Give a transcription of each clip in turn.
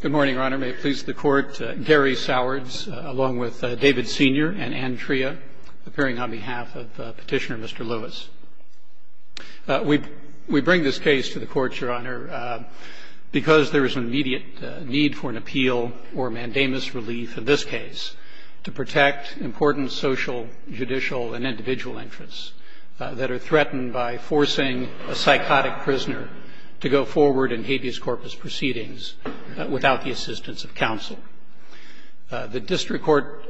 Good morning, Your Honor. May it please the Court, Gary Sowards, along with David Senior and Ann Tria, appearing on behalf of Petitioner Mr. Lewis. We bring this case to the Court, Your Honor, because there is an immediate need for an appeal or mandamus relief in this case to protect important social, judicial, and individual interests that are threatened by forcing a psychotic prisoner to go forward in habeas corpus proceedings without the assistance of counsel. The district court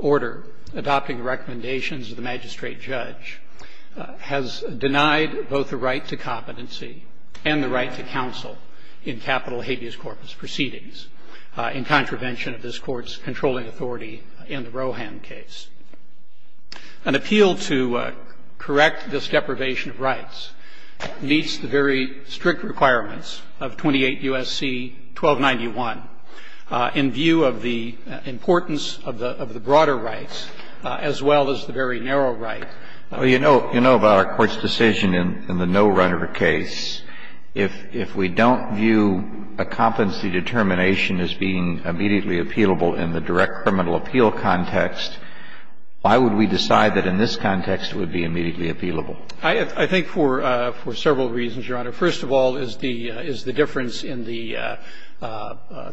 order adopting the recommendations of the magistrate judge has denied both the right to competency and the right to counsel in capital habeas corpus proceedings in contravention of this Court's controlling authority in the Roeham case. An appeal to correct this deprivation of rights meets the very strict requirements of 28 U.S.C. 1291 in view of the importance of the broader rights as well as the very narrow right. Well, you know about our Court's decision in the no-runner case. If we don't view a competency determination as being immediately appealable in the direct criminal appeal context, why would we decide that in this context it would be immediately appealable? I think for several reasons, Your Honor. First of all is the difference in the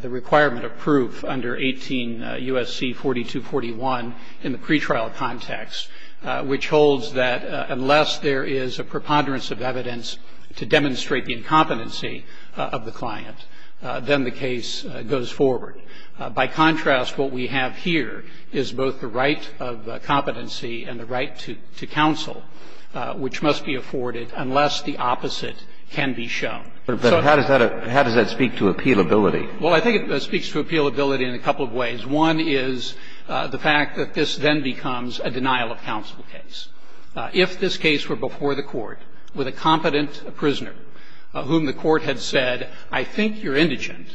requirement of proof under 18 U.S.C. 4241 in the pretrial context, which holds that unless there is a preponderance of evidence to demonstrate the incompetency of the client, then the case goes forward. By contrast, what we have here is both the right of competency and the right to counsel, which must be afforded unless the opposite can be shown. But how does that speak to appealability? Well, I think it speaks to appealability in a couple of ways. One is the fact that this then becomes a denial of counsel case. If this case were before the Court with a competent prisoner whom the Court had said, I think you're indigent,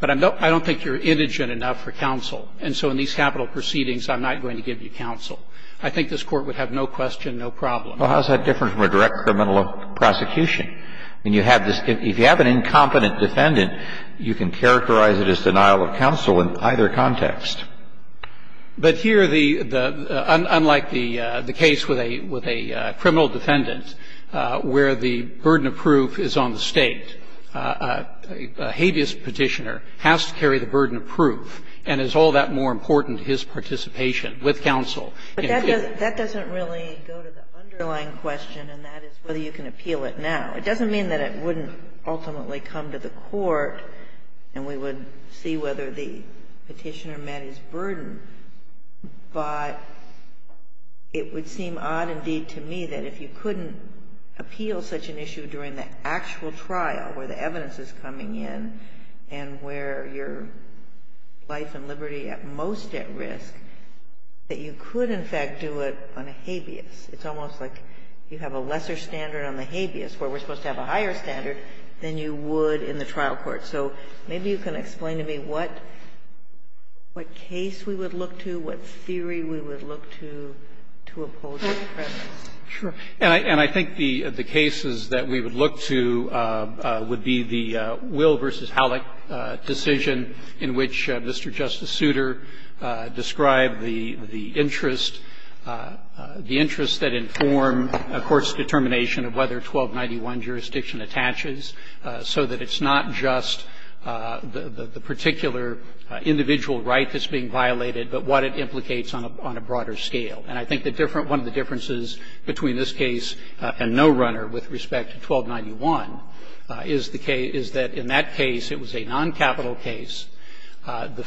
but I don't think you're indigent enough for counsel. And so in these capital proceedings, I'm not going to give you counsel. I think this Court would have no question, no problem. Well, how is that different from a direct criminal prosecution? I mean, you have this – if you have an incompetent defendant, you can characterize it as denial of counsel in either context. But here the – unlike the case with a criminal defendant where the burden of proof is on the State, a habeas Petitioner has to carry the burden of proof. And is all that more important to his participation with counsel? But that doesn't really go to the underlying question, and that is whether you can appeal it now. It doesn't mean that it wouldn't ultimately come to the Court and we would see whether the Petitioner met his burden. But it would seem odd indeed to me that if you couldn't appeal such an issue during the actual trial where the evidence is coming in and where your life and liberty at most at risk, that you could, in fact, do it on a habeas. It's almost like you have a lesser standard on the habeas where we're supposed to have a higher standard than you would in the trial court. So maybe you can explain to me what case we would look to, what theory we would look to, to oppose the presence. Sure. And I think the cases that we would look to would be the Will v. Halleck decision in which Mr. Justice Souter described the interest, the interest that inform a court's determination of whether 1291 jurisdiction attaches, so that it's not just the particular individual right that's being violated, but what it implicates on a broader scale. And I think one of the differences between this case and No Runner with respect to 1291 is that in that case, it was a noncapital case. The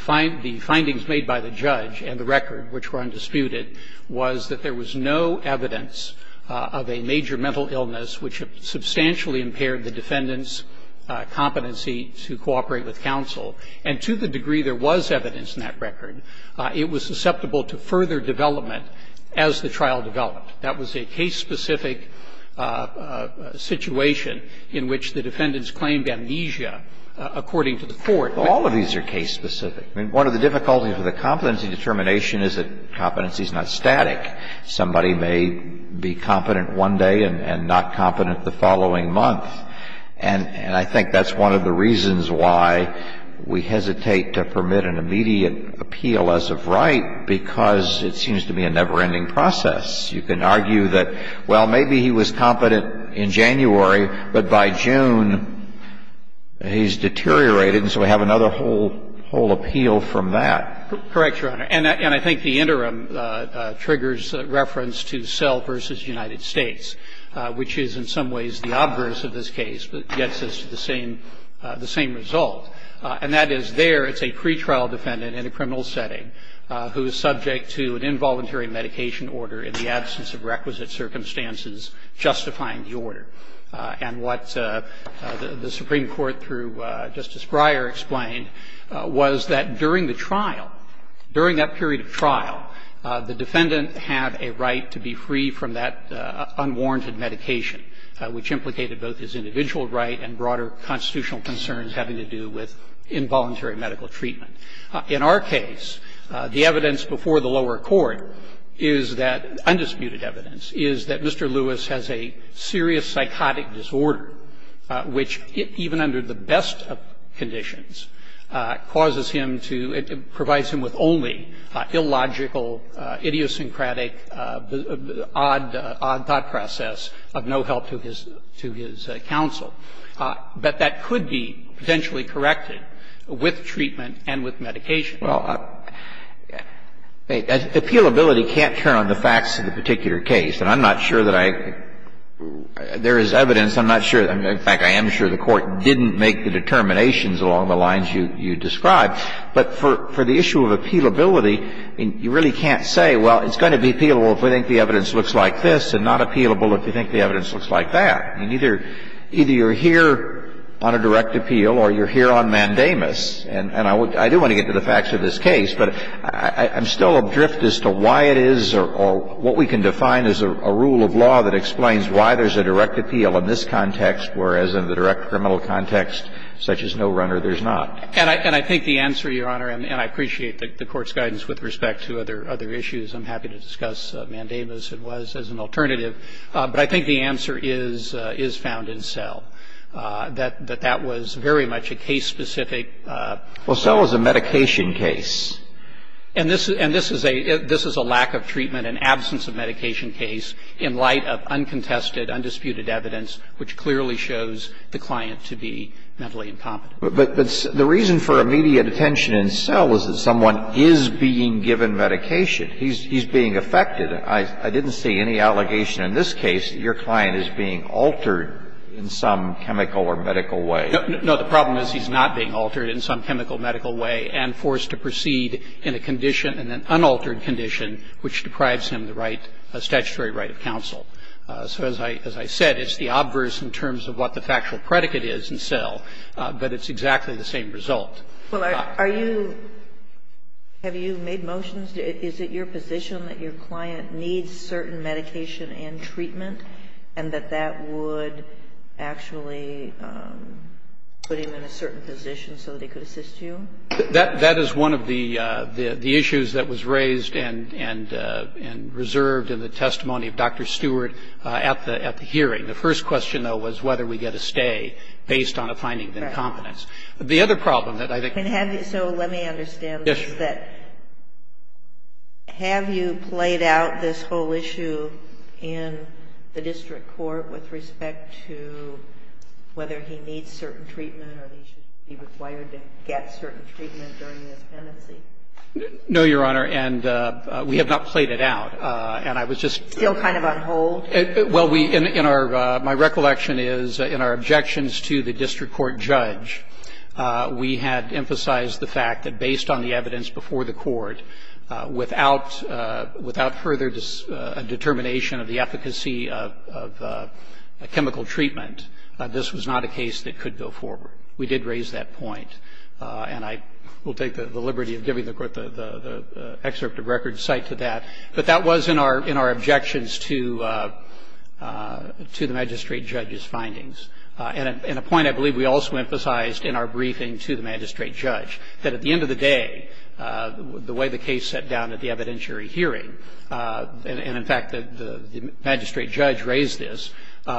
findings made by the judge and the record, which were undisputed, was that there was no evidence of a major mental illness which substantially impaired the defendant's competency to cooperate with counsel. And to the degree there was evidence in that record, it was susceptible to further development as the trial developed. That was a case-specific situation in which the defendants claimed amnesia according to the court. Well, all of these are case-specific. I mean, one of the difficulties with a competency determination is that competency is not static. Somebody may be competent one day and not competent the following month. And I think that's one of the reasons why we hesitate to permit an immediate appeal as of right, because it seems to be a never-ending process. You can argue that, well, maybe he was competent in January, but by June he's deteriorated, and so we have another whole, whole appeal from that. Correct, Your Honor. And I think the interim triggers reference to Sell v. United States, which is in some ways the obverse of this case, but gets us to the same, the same result. And that is there it's a pretrial defendant in a criminal setting who is subject to an involuntary medication order in the absence of requisite circumstances justifying the order. And what the Supreme Court, through Justice Breyer, explained was that during the trial, during that period of trial, the defendant had a right to be free from that unwarranted medication, which implicated both his individual right and broader constitutional concerns having to do with involuntary medical treatment. In our case, the evidence before the lower court is that, undisputed evidence, is that Mr. Lewis has a serious psychotic disorder, which even under the best of conditions causes him to, it provides him with only illogical, idiosyncratic, odd thought process of no help to his counsel. But that could be potentially corrected with treatment and with medication. Well, appealability can't turn on the facts of the particular case. And I'm not sure that I, there is evidence, I'm not sure, in fact, I am sure the Court didn't make the determinations along the lines you describe. But for the issue of appealability, you really can't say, well, it's going to be appealable if we think the evidence looks like this and not appealable if we think the evidence looks like that. I mean, either you're here on a direct appeal or you're here on mandamus. And I do want to get to the facts of this case, but I'm still adrift as to why it is or what we can define as a rule of law that explains why there's a direct appeal in this context, whereas in the direct criminal context, such as no runner, there's not. And I think the answer, Your Honor, and I appreciate the Court's guidance with respect to other issues, I'm happy to discuss mandamus as it was, as an alternative, but I think the answer is found in Selle, that that was very much a case-specific case. Well, Selle is a medication case. And this is a lack of treatment, an absence of medication case, in light of uncontested, undisputed evidence, which clearly shows the client to be mentally incompetent. But the reason for immediate attention in Selle is that someone is being given medication. He's being affected. I didn't see any allegation in this case that your client is being altered in some chemical or medical way. No. The problem is he's not being altered in some chemical, medical way and forced to proceed in a condition, in an unaltered condition, which deprives him the right of statutory right of counsel. So as I said, it's the obverse in terms of what the factual predicate is in Selle, but it's exactly the same result. Well, are you, have you made motions? Is it your position that your client needs certain medication and treatment and that that would actually put him in a certain position so that he could assist you? That is one of the issues that was raised and reserved in the testimony of Dr. Stewart at the hearing. The first question, though, was whether we get a stay based on a finding of incompetence. The other problem that I think we have is that we don't get a stay based on a finding The other problem that I think we have is that we don't get a stay based on a finding of incompetence. And have you, so let me understand this, that have you played out this whole issue in the district court with respect to whether he needs certain treatment or he should have certain treatment during his pendency? No, Your Honor, and we have not played it out. And I was just Still kind of on hold? Well, we, in our, my recollection is in our objections to the district court judge, we had emphasized the fact that based on the evidence before the court, without further determination of the efficacy of chemical treatment, this was not a case that could go forward. We did raise that point. And I will take the liberty of giving the court the excerpt of record cite to that. But that was in our objections to the magistrate judge's findings. And a point I believe we also emphasized in our briefing to the magistrate judge, that at the end of the day, the way the case sat down at the evidentiary hearing, and in fact the magistrate judge raised this,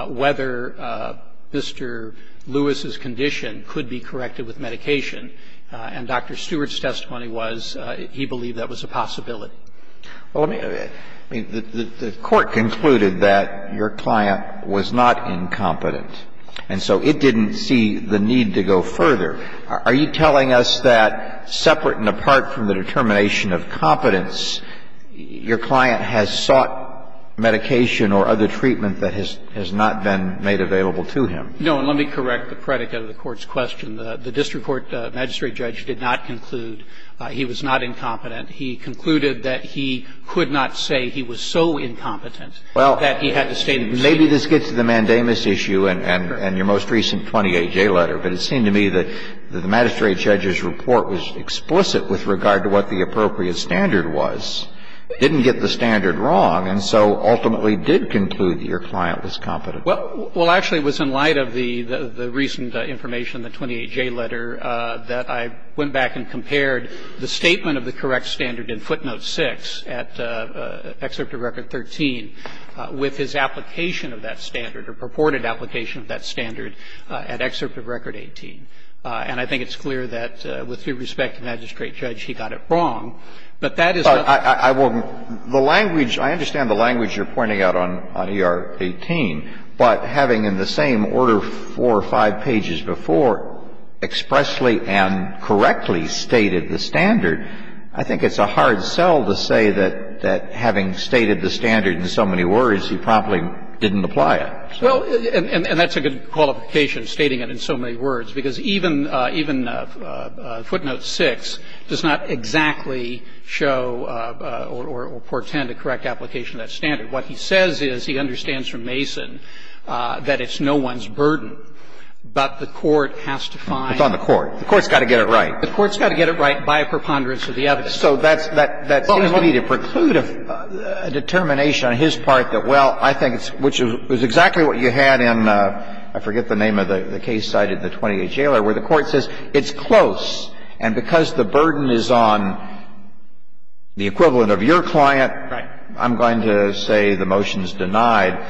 whether Mr. Lewis's condition could be corrected with medication. And Dr. Stewart's testimony was he believed that was a possibility. Well, let me, I mean, the court concluded that your client was not incompetent. And so it didn't see the need to go further. Are you telling us that separate and apart from the determination of competence, your client has sought medication or other treatment that has not been made available to him? No. And let me correct the predicate of the Court's question. The district court magistrate judge did not conclude he was not incompetent. He concluded that he could not say he was so incompetent that he had to stay in the proceeding. Well, maybe this gets to the mandamus issue and your most recent 20AJ letter. But it seemed to me that the magistrate judge's report was explicit with regard to what the appropriate standard was. Didn't get the standard wrong, and so ultimately did conclude that your client was competent. Well, actually, it was in light of the recent information in the 20AJ letter that I went back and compared the statement of the correct standard in footnote 6 at Excerpt of Record 13 with his application of that standard, or purported application of that standard at Excerpt of Record 18. And I think it's clear that with due respect to the magistrate judge, he got it wrong. But that is not the case. I wouldn't the language, I understand the language you're pointing out on ER-18. But having in the same order four or five pages before expressly and correctly stated the standard, I think it's a hard sell to say that having stated the standard in so many words, he promptly didn't apply it. Well, and that's a good qualification, stating it in so many words, because even footnote 6 does not exactly show or portend a correct application of that standard. What he says is, he understands from Mason that it's no one's burden, but the court has to find. It's on the court. The court's got to get it right. The court's got to get it right by a preponderance of the evidence. So that seems to me to preclude a determination on his part that, well, I think it's – which is exactly what you had in, I forget the name of the case cited in the It's close. And because the burden is on the equivalent of your client, I'm going to say the motion's denied.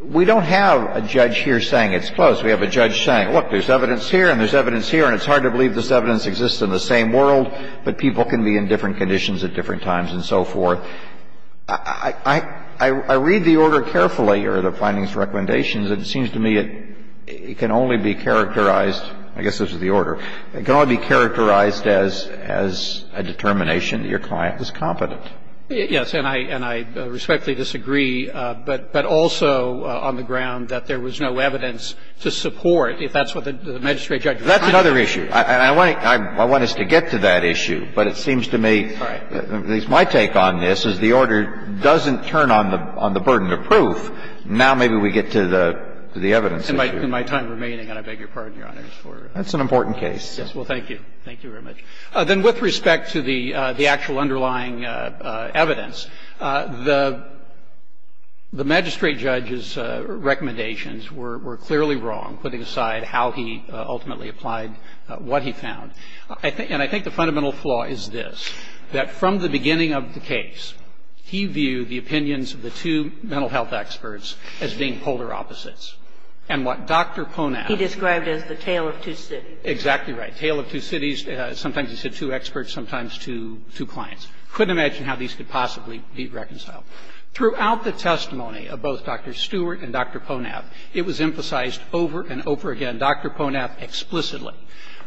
We don't have a judge here saying it's close. We have a judge saying, look, there's evidence here and there's evidence here, and it's hard to believe this evidence exists in the same world, but people can be in different conditions at different times and so forth. I read the order carefully, or the findings recommendations, and it seems to me it can only be characterized – I guess this is the order. It can only be characterized as a determination that your client is competent. Yes. And I respectfully disagree, but also on the ground that there was no evidence to support, if that's what the magistrate judge was trying to do. That's another issue. I want us to get to that issue, but it seems to me, at least my take on this, is the order doesn't turn on the burden of proof. Now maybe we get to the evidence issue. In my time remaining, and I beg your pardon, Your Honors, for – That's an important case. Yes. Well, thank you. Thank you very much. Then with respect to the actual underlying evidence, the magistrate judge's recommendations were clearly wrong, putting aside how he ultimately applied what he found. And I think the fundamental flaw is this, that from the beginning of the case, he viewed the opinions of the two mental health experts as being polar opposites. And what Dr. Ponat – And what Dr. Ponat described as the tale of two cities. Exactly right. Tale of two cities. Sometimes he said two experts, sometimes two clients. Couldn't imagine how these could possibly be reconciled. Throughout the testimony of both Dr. Stewart and Dr. Ponat, it was emphasized over and over again, Dr. Ponat explicitly,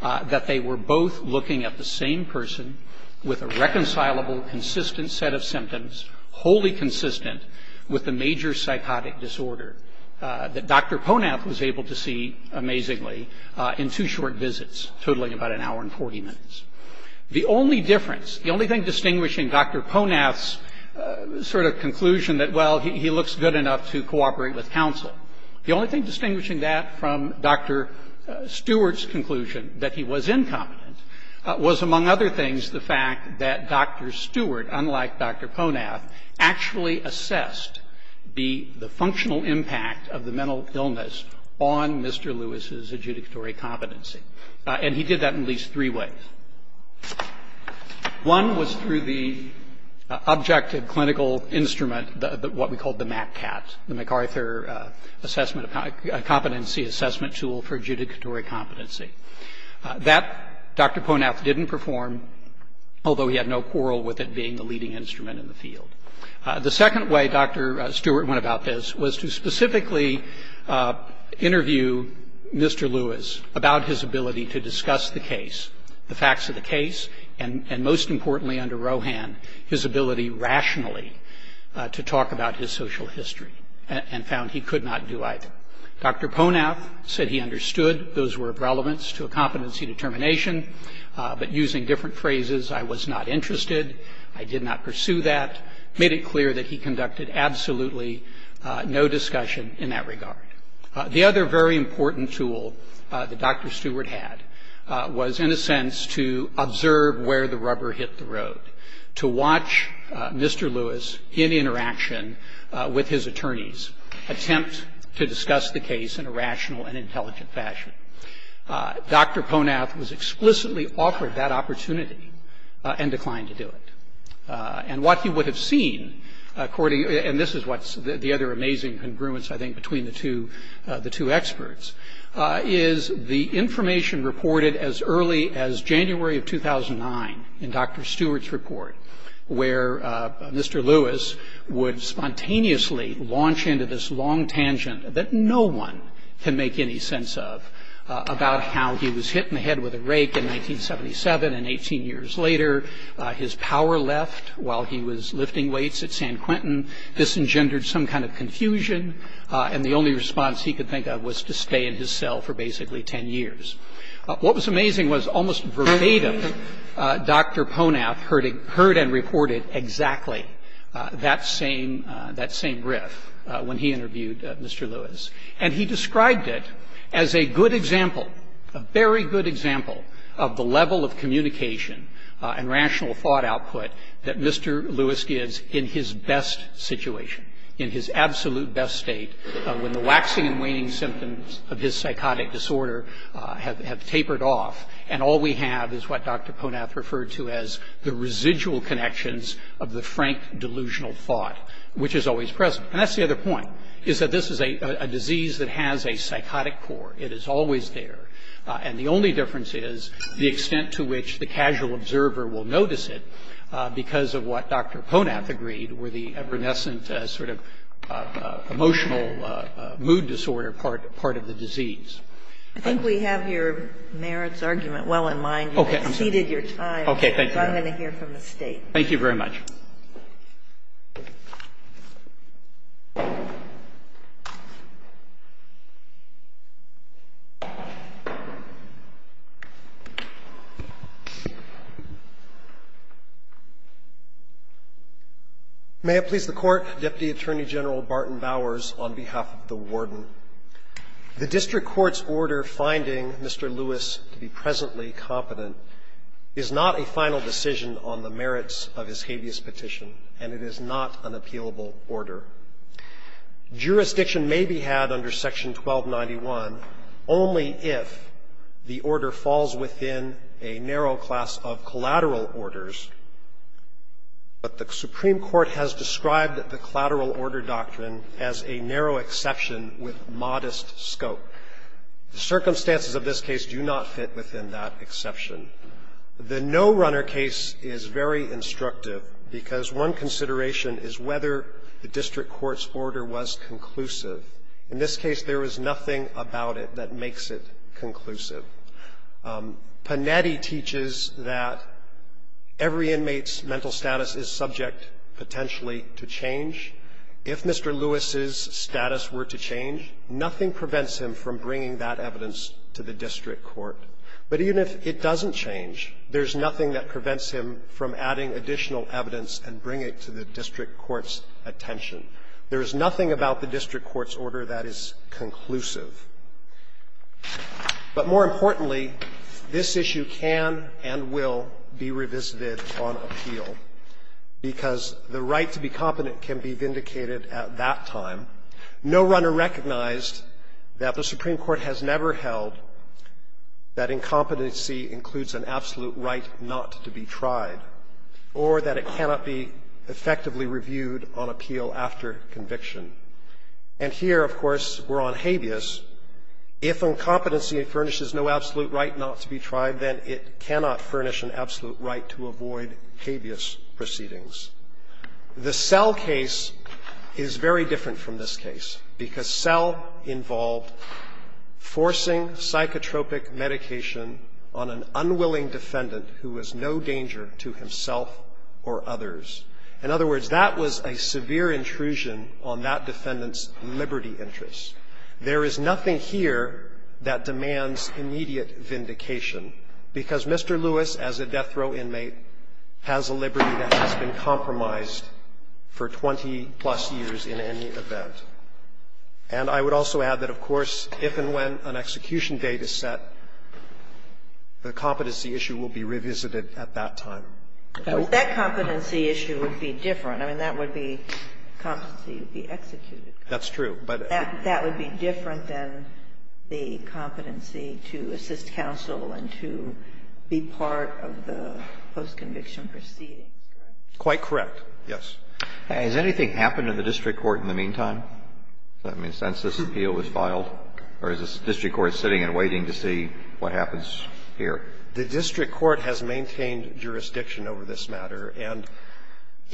that they were both looking at the same person with a reconcilable, consistent set of symptoms, wholly consistent with the major psychotic disorder that Dr. Ponat was able to see, amazingly, in two short visits, totaling about an hour and 40 minutes. The only difference, the only thing distinguishing Dr. Ponat's sort of conclusion that, well, he looks good enough to cooperate with counsel, the only thing distinguishing that from Dr. Stewart's conclusion that he was incompetent was, among other things, the fact that Dr. Stewart, unlike Dr. Ponat, actually assessed the functional impact of the mental illness on Mr. Lewis's adjudicatory competency. And he did that in at least three ways. One was through the objective clinical instrument, what we called the MACCAT, the MacArthur Assessment – Competency Assessment Tool for Adjudicatory Competency. That Dr. Ponat didn't perform, although he had no quarrel with it being the leading instrument in the field. The second way Dr. Stewart went about this was to specifically interview Mr. Lewis about his ability to discuss the case, the facts of the case, and most importantly under Rohan, his ability rationally to talk about his social history and found he could not do either. Dr. Ponat said he understood those were of relevance to a competency determination, but using different phrases, I was not interested, I did not pursue that, made it clear that he conducted absolutely no discussion in that regard. The other very important tool that Dr. Stewart had was, in a sense, to observe where the rubber hit the road, to watch Mr. Lewis, in interaction with his attorneys, attempt to discuss the case in a rational and intelligent fashion. Dr. Ponat was explicitly offered that opportunity and declined to do it. And what he would have seen, and this is what's the other amazing congruence, I think, between the two experts, is the information reported as early as January of 2009 in Dr. Stewart's report, where Mr. Lewis would spontaneously launch into this long tangent that no one can make any sense of about how he was hit in the head with a rake in 1977 and 18 years later, his power left while he was lifting weights at San Quentin. This engendered some kind of confusion and the only response he could think of was to stay in his cell for basically 10 years. What was amazing was almost verbatim Dr. Ponat heard and reported exactly that same riff when he interviewed Mr. Lewis. And he described it as a good example, a very good example of the level of communication and rational thought output that Mr. Lewis gives in his best situation, in his absolute best state, when the waxing and waning symptoms of his psychotic disorder have tapered off and all we have is what Dr. Ponat referred to as the residual connections of the frank delusional thought, which is always present. And that's the other point, is that this is a disease that has a psychotic core. It is always there. And the only difference is the extent to which the casual observer will notice it because of what Dr. Ponat agreed were the evanescent sort of emotional mood disorder part of the disease. I think we have your merits argument well in mind. Okay. You've exceeded your time. Okay. Thank you. So I'm going to hear from the State. Thank you very much. May it please the Court. I would like to quote Deputy Attorney General Barton Bowers on behalf of the Warden. The district court's order finding Mr. Lewis to be presently competent is not a final decision on the merits of his habeas petition, and it is not an appealable order. Jurisdiction may be had under Section 1291 only if the order falls within a narrow class of collateral orders, but the Supreme Court has described the kind of power of the collateral order doctrine as a narrow exception with modest scope. The circumstances of this case do not fit within that exception. The no-runner case is very instructive because one consideration is whether the district court's order was conclusive. In this case, there was nothing about it that makes it conclusive. Panetti teaches that every inmate's mental status is subject potentially to change. If Mr. Lewis's status were to change, nothing prevents him from bringing that evidence to the district court. But even if it doesn't change, there's nothing that prevents him from adding additional evidence and bring it to the district court's attention. There is nothing about the district court's order that is conclusive. But more importantly, this issue can and will be revisited on appeal because the right to be competent can be vindicated at that time. No-runner recognized that the Supreme Court has never held that incompetency includes an absolute right not to be tried or that it cannot be effectively reviewed on appeal after conviction. And here, of course, we're on habeas. If incompetency furnishes no absolute right not to be tried, then it cannot furnish an absolute right to avoid habeas proceedings. The Sell case is very different from this case because Sell involved forcing psychotropic medication on an unwilling defendant who was no danger to himself or others. In other words, that was a severe intrusion on that defendant's liberty interests. There is nothing here that demands immediate vindication, because Mr. Lewis, as a death row inmate, has a liberty that has been compromised for 20-plus years in any event. And I would also add that, of course, if and when an execution date is set, the competency issue will be revisited at that time. That competency issue would be different. I mean, that would be competency to be executed. That's true. But that would be different than the competency to assist counsel and to be part of the post-conviction proceedings, correct? Quite correct, yes. Has anything happened in the district court in the meantime since this appeal was filed? Or is the district court sitting and waiting to see what happens here? The district court has maintained jurisdiction over this matter, and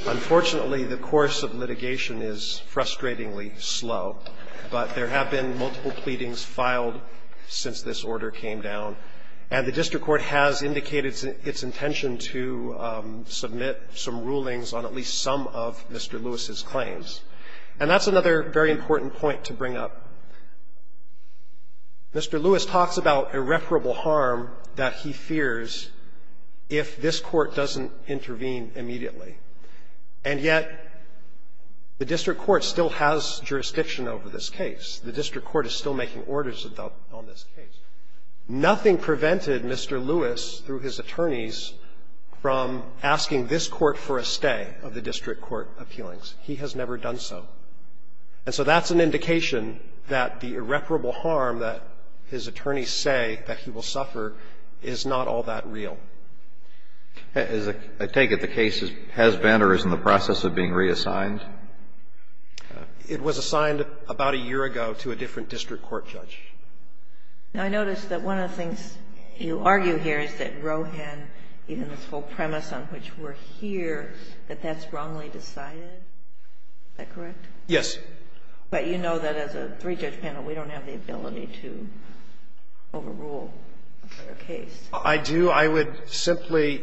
unfortunately, the course of litigation is frustratingly slow. But there have been multiple pleadings filed since this order came down. And the district court has indicated its intention to submit some rulings on at least some of Mr. Lewis's claims. And that's another very important point to bring up. Mr. Lewis talks about irreparable harm that he fears if this Court doesn't intervene immediately. And yet, the district court still has jurisdiction over this case. The district court is still making orders on this case. Nothing prevented Mr. Lewis through his attorneys from asking this Court for a stay of the district court appealings. He has never done so. And so that's an indication that the irreparable harm that his attorneys say that he will suffer is not all that real. I take it the case has been or is in the process of being reassigned? It was assigned about a year ago to a different district court judge. Now, I notice that one of the things you argue here is that Rohan, even this whole premise on which we're here, that that's wrongly decided. Is that correct? Yes. But you know that as a three-judge panel, we don't have the ability to overrule a fair case. I do. I would simply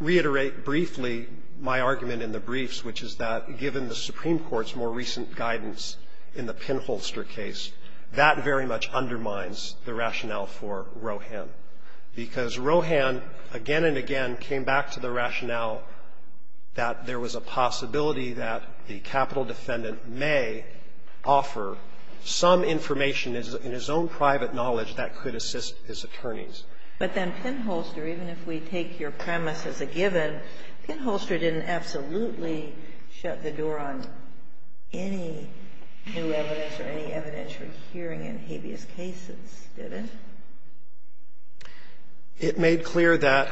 reiterate briefly my argument in the briefs, which is that given the Supreme Court's more recent guidance in the Pinholster case, that very much undermines the rationale for Rohan, because Rohan again and again came back to the rationale that there was a possibility that the capital defendant may offer some information in his own private knowledge that could assist his attorneys. But then Pinholster, even if we take your premise as a given, Pinholster didn't absolutely shut the door on any new evidence or any evidence for hearing in habeas cases, did it? It made clear that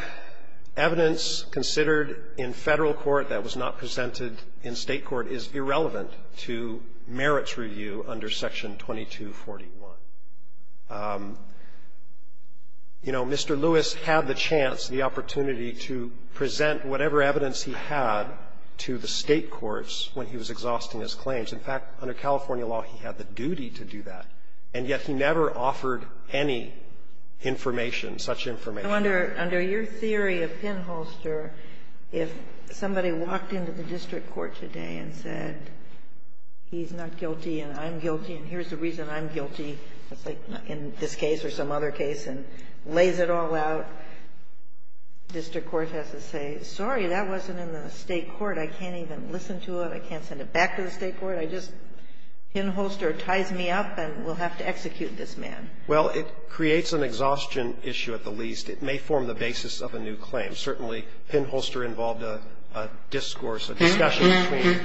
evidence considered in Federal court that was not presented in State court is irrelevant to merits review under Section 2241. You know, Mr. Lewis had the chance, the opportunity to present whatever evidence he had to the State courts when he was exhausting his claims. In fact, under California law, he had the duty to do that, and yet he never offered any information, such information. Under your theory of Pinholster, if somebody walked into the district court today and said, he's not guilty and I'm guilty and here's the reason I'm guilty, in this case or some other case, and lays it all out, district court has to say, sorry, that wasn't in the State court. I can't even listen to it. I can't send it back to the State court. I just, Pinholster ties me up and we'll have to execute this man. Well, it creates an exhaustion issue at the least. It may form the basis of a new claim. Certainly, Pinholster involved a discourse, a discussion between.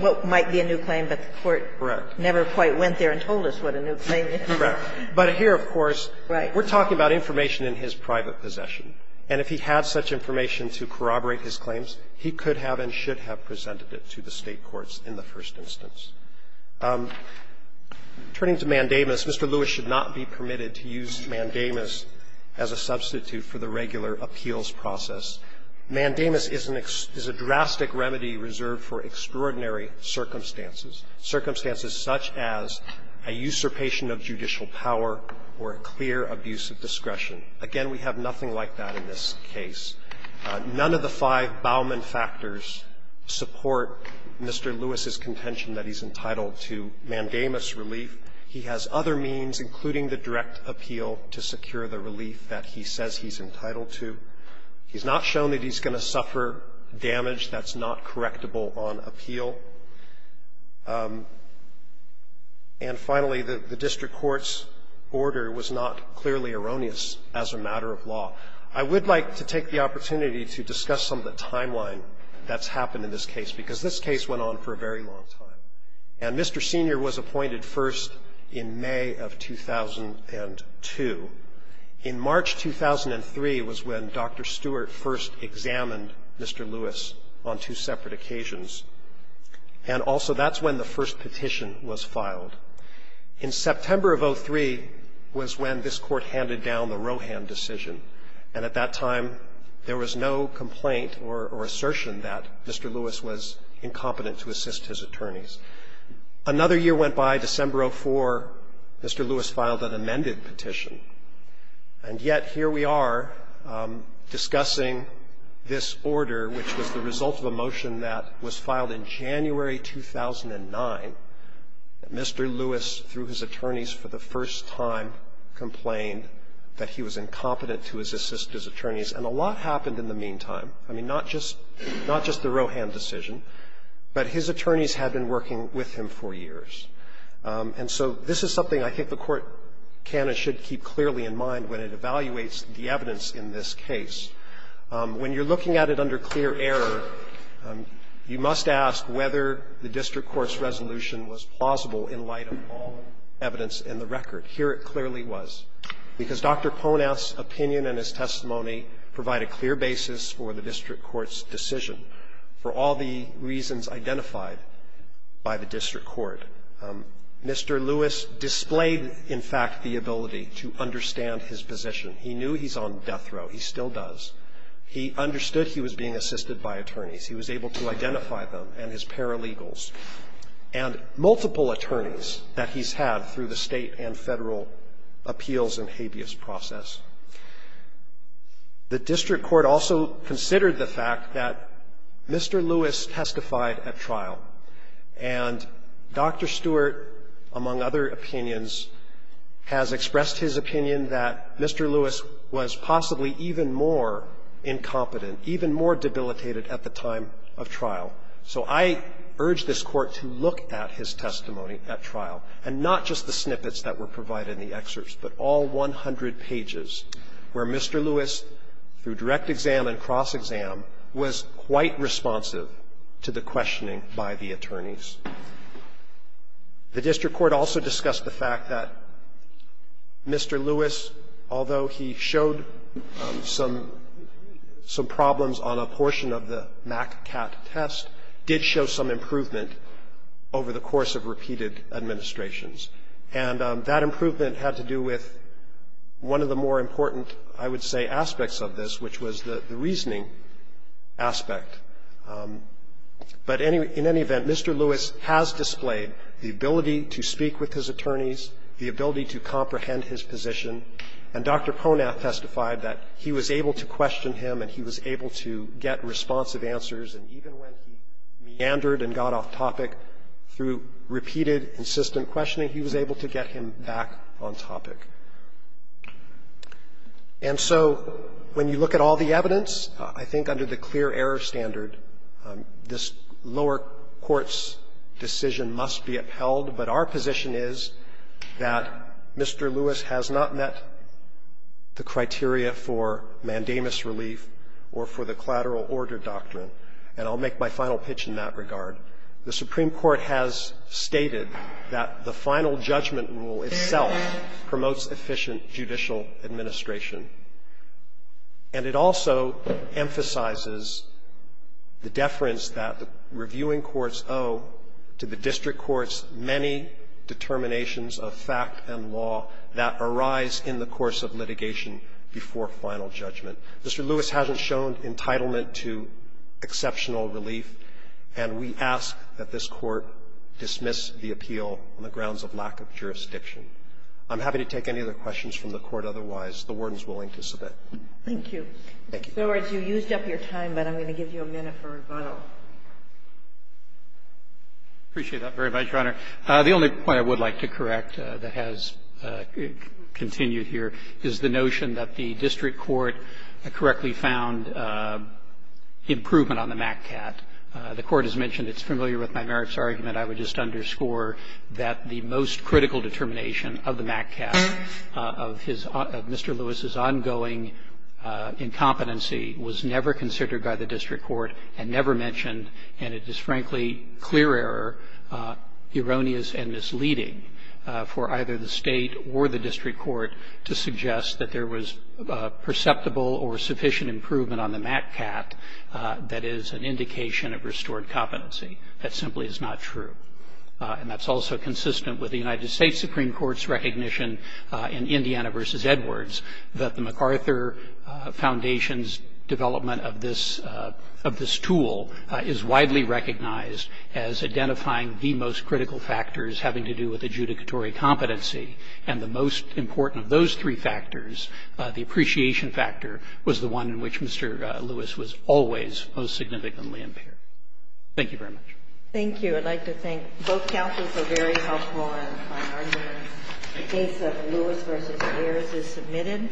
What might be a new claim, but the court never quite went there and told us what a new claim is. Correct. But here, of course, we're talking about information in his private possession. And if he had such information to corroborate his claims, he could have and should have presented it to the State courts in the first instance. Turning to Mandamus, Mr. Lewis should not be permitted to use Mandamus as a substitute for the regular appeals process. Mandamus is an ex – is a drastic remedy reserved for extraordinary circumstances, circumstances such as a usurpation of judicial power or a clear abuse of discretion. Again, we have nothing like that in this case. None of the five Bauman factors support Mr. Lewis's contention that he's entitled to Mandamus relief. He has other means, including the direct appeal, to secure the relief that he says he's entitled to. He's not shown that he's going to suffer damage that's not correctable on appeal. And finally, the district court's order was not clearly erroneous as a matter of law. I would like to take the opportunity to discuss some of the timeline that's happened in this case, because this case went on for a very long time. And Mr. Senior was appointed first in May of 2002. In March 2003 was when Dr. Stewart first examined Mr. Lewis on two separate occasions. And also that's when the first petition was filed. In September of 03 was when this Court handed down the Rohan decision. And at that time, there was no complaint or assertion that Mr. Lewis was incompetent to assist his attorneys. Another year went by, December of 04, Mr. Lewis filed an amended petition. And yet here we are discussing this order, which was the result of a motion that was filed in January 2009, that Mr. Lewis, through his attorneys for the first time, complained that he was incompetent to assist his attorneys. And a lot happened in the meantime. I mean, not just the Rohan decision, but his attorneys had been working with him for years. And so this is something I think the Court can and should keep clearly in mind when it evaluates the evidence in this case. When you're looking at it under clear error, you must ask whether the district court's resolution was plausible in light of all evidence in the record. Here it clearly was. Because Dr. Ponath's opinion and his testimony provide a clear basis for the district court's decision for all the reasons identified by the district court. Mr. Lewis displayed, in fact, the ability to understand his position. He knew he's on death row. He still does. He understood he was being assisted by attorneys. He was able to identify them and his paralegals and multiple attorneys that he's had through the State and Federal appeals and habeas process. The district court also considered the fact that Mr. Lewis testified at trial. And Dr. Stewart, among other opinions, has expressed his opinion that Mr. Lewis was possibly even more incompetent, even more debilitated at the time of trial. So I urge this Court to look at his testimony at trial, and not just the snippets that were provided in the excerpts, but all 100 pages where Mr. Lewis, through direct exam and cross-exam, was quite responsive to the questioning by the attorneys. The district court also discussed the fact that Mr. Lewis, although he showed some problems on a portion of the MACCAT test, did show some improvement over the course of repeated administrations. And that improvement had to do with one of the more important, I would say, aspects of this, which was the reasoning aspect. But in any event, Mr. Lewis has displayed the ability to speak with his attorneys, the ability to comprehend his position. And Dr. Ponath testified that he was able to question him, and he was able to get responsive answers. And even when he meandered and got off topic through repeated, insistent questioning, he was able to get him back on topic. And so when you look at all the evidence, I think under the clear error standard, this lower court's decision must be upheld. But our position is that Mr. Lewis has not met the criteria for mandamus relief or for the collateral order doctrine, and I'll make my final pitch in that regard. The Supreme Court has stated that the final judgment rule itself promotes efficient judicial administration. And it also emphasizes the deference that the reviewing courts owe to the district courts' many determinations of fact and law that arise in the course of litigation before final judgment. Mr. Lewis hasn't shown entitlement to exceptional relief, and we ask that this Court dismiss the appeal on the grounds of lack of jurisdiction. I'm happy to take any other questions from the Court otherwise. The Warden is willing to submit. Thank you. Thank you. Roberts, you used up your time, but I'm going to give you a minute for rebuttal. I appreciate that very much, Your Honor. The only point I would like to correct that has continued here is the notion that the district court correctly found improvement on the MACCAT. The Court has mentioned it's familiar with my merits argument. I would just underscore that the most critical determination of the MACCAT of his Mr. Lewis's ongoing incompetency was never considered by the district court and never mentioned, and it is, frankly, clear error, erroneous and misleading for either the state or the district court to suggest that there was perceptible or sufficient improvement on the MACCAT that is an indication of restored competency. That simply is not true. And that's also consistent with the United States Supreme Court's recognition in Indiana v. Edwards that the MacArthur Foundation's development of this tool is widely recognized as identifying the most critical factors having to do with competency, and the most important of those three factors, the appreciation factor, was the one in which Mr. Lewis was always most significantly impaired. Thank you very much. Thank you. I'd like to thank both counsels for very helpful arguments. The case of Lewis v. Ayers is submitted.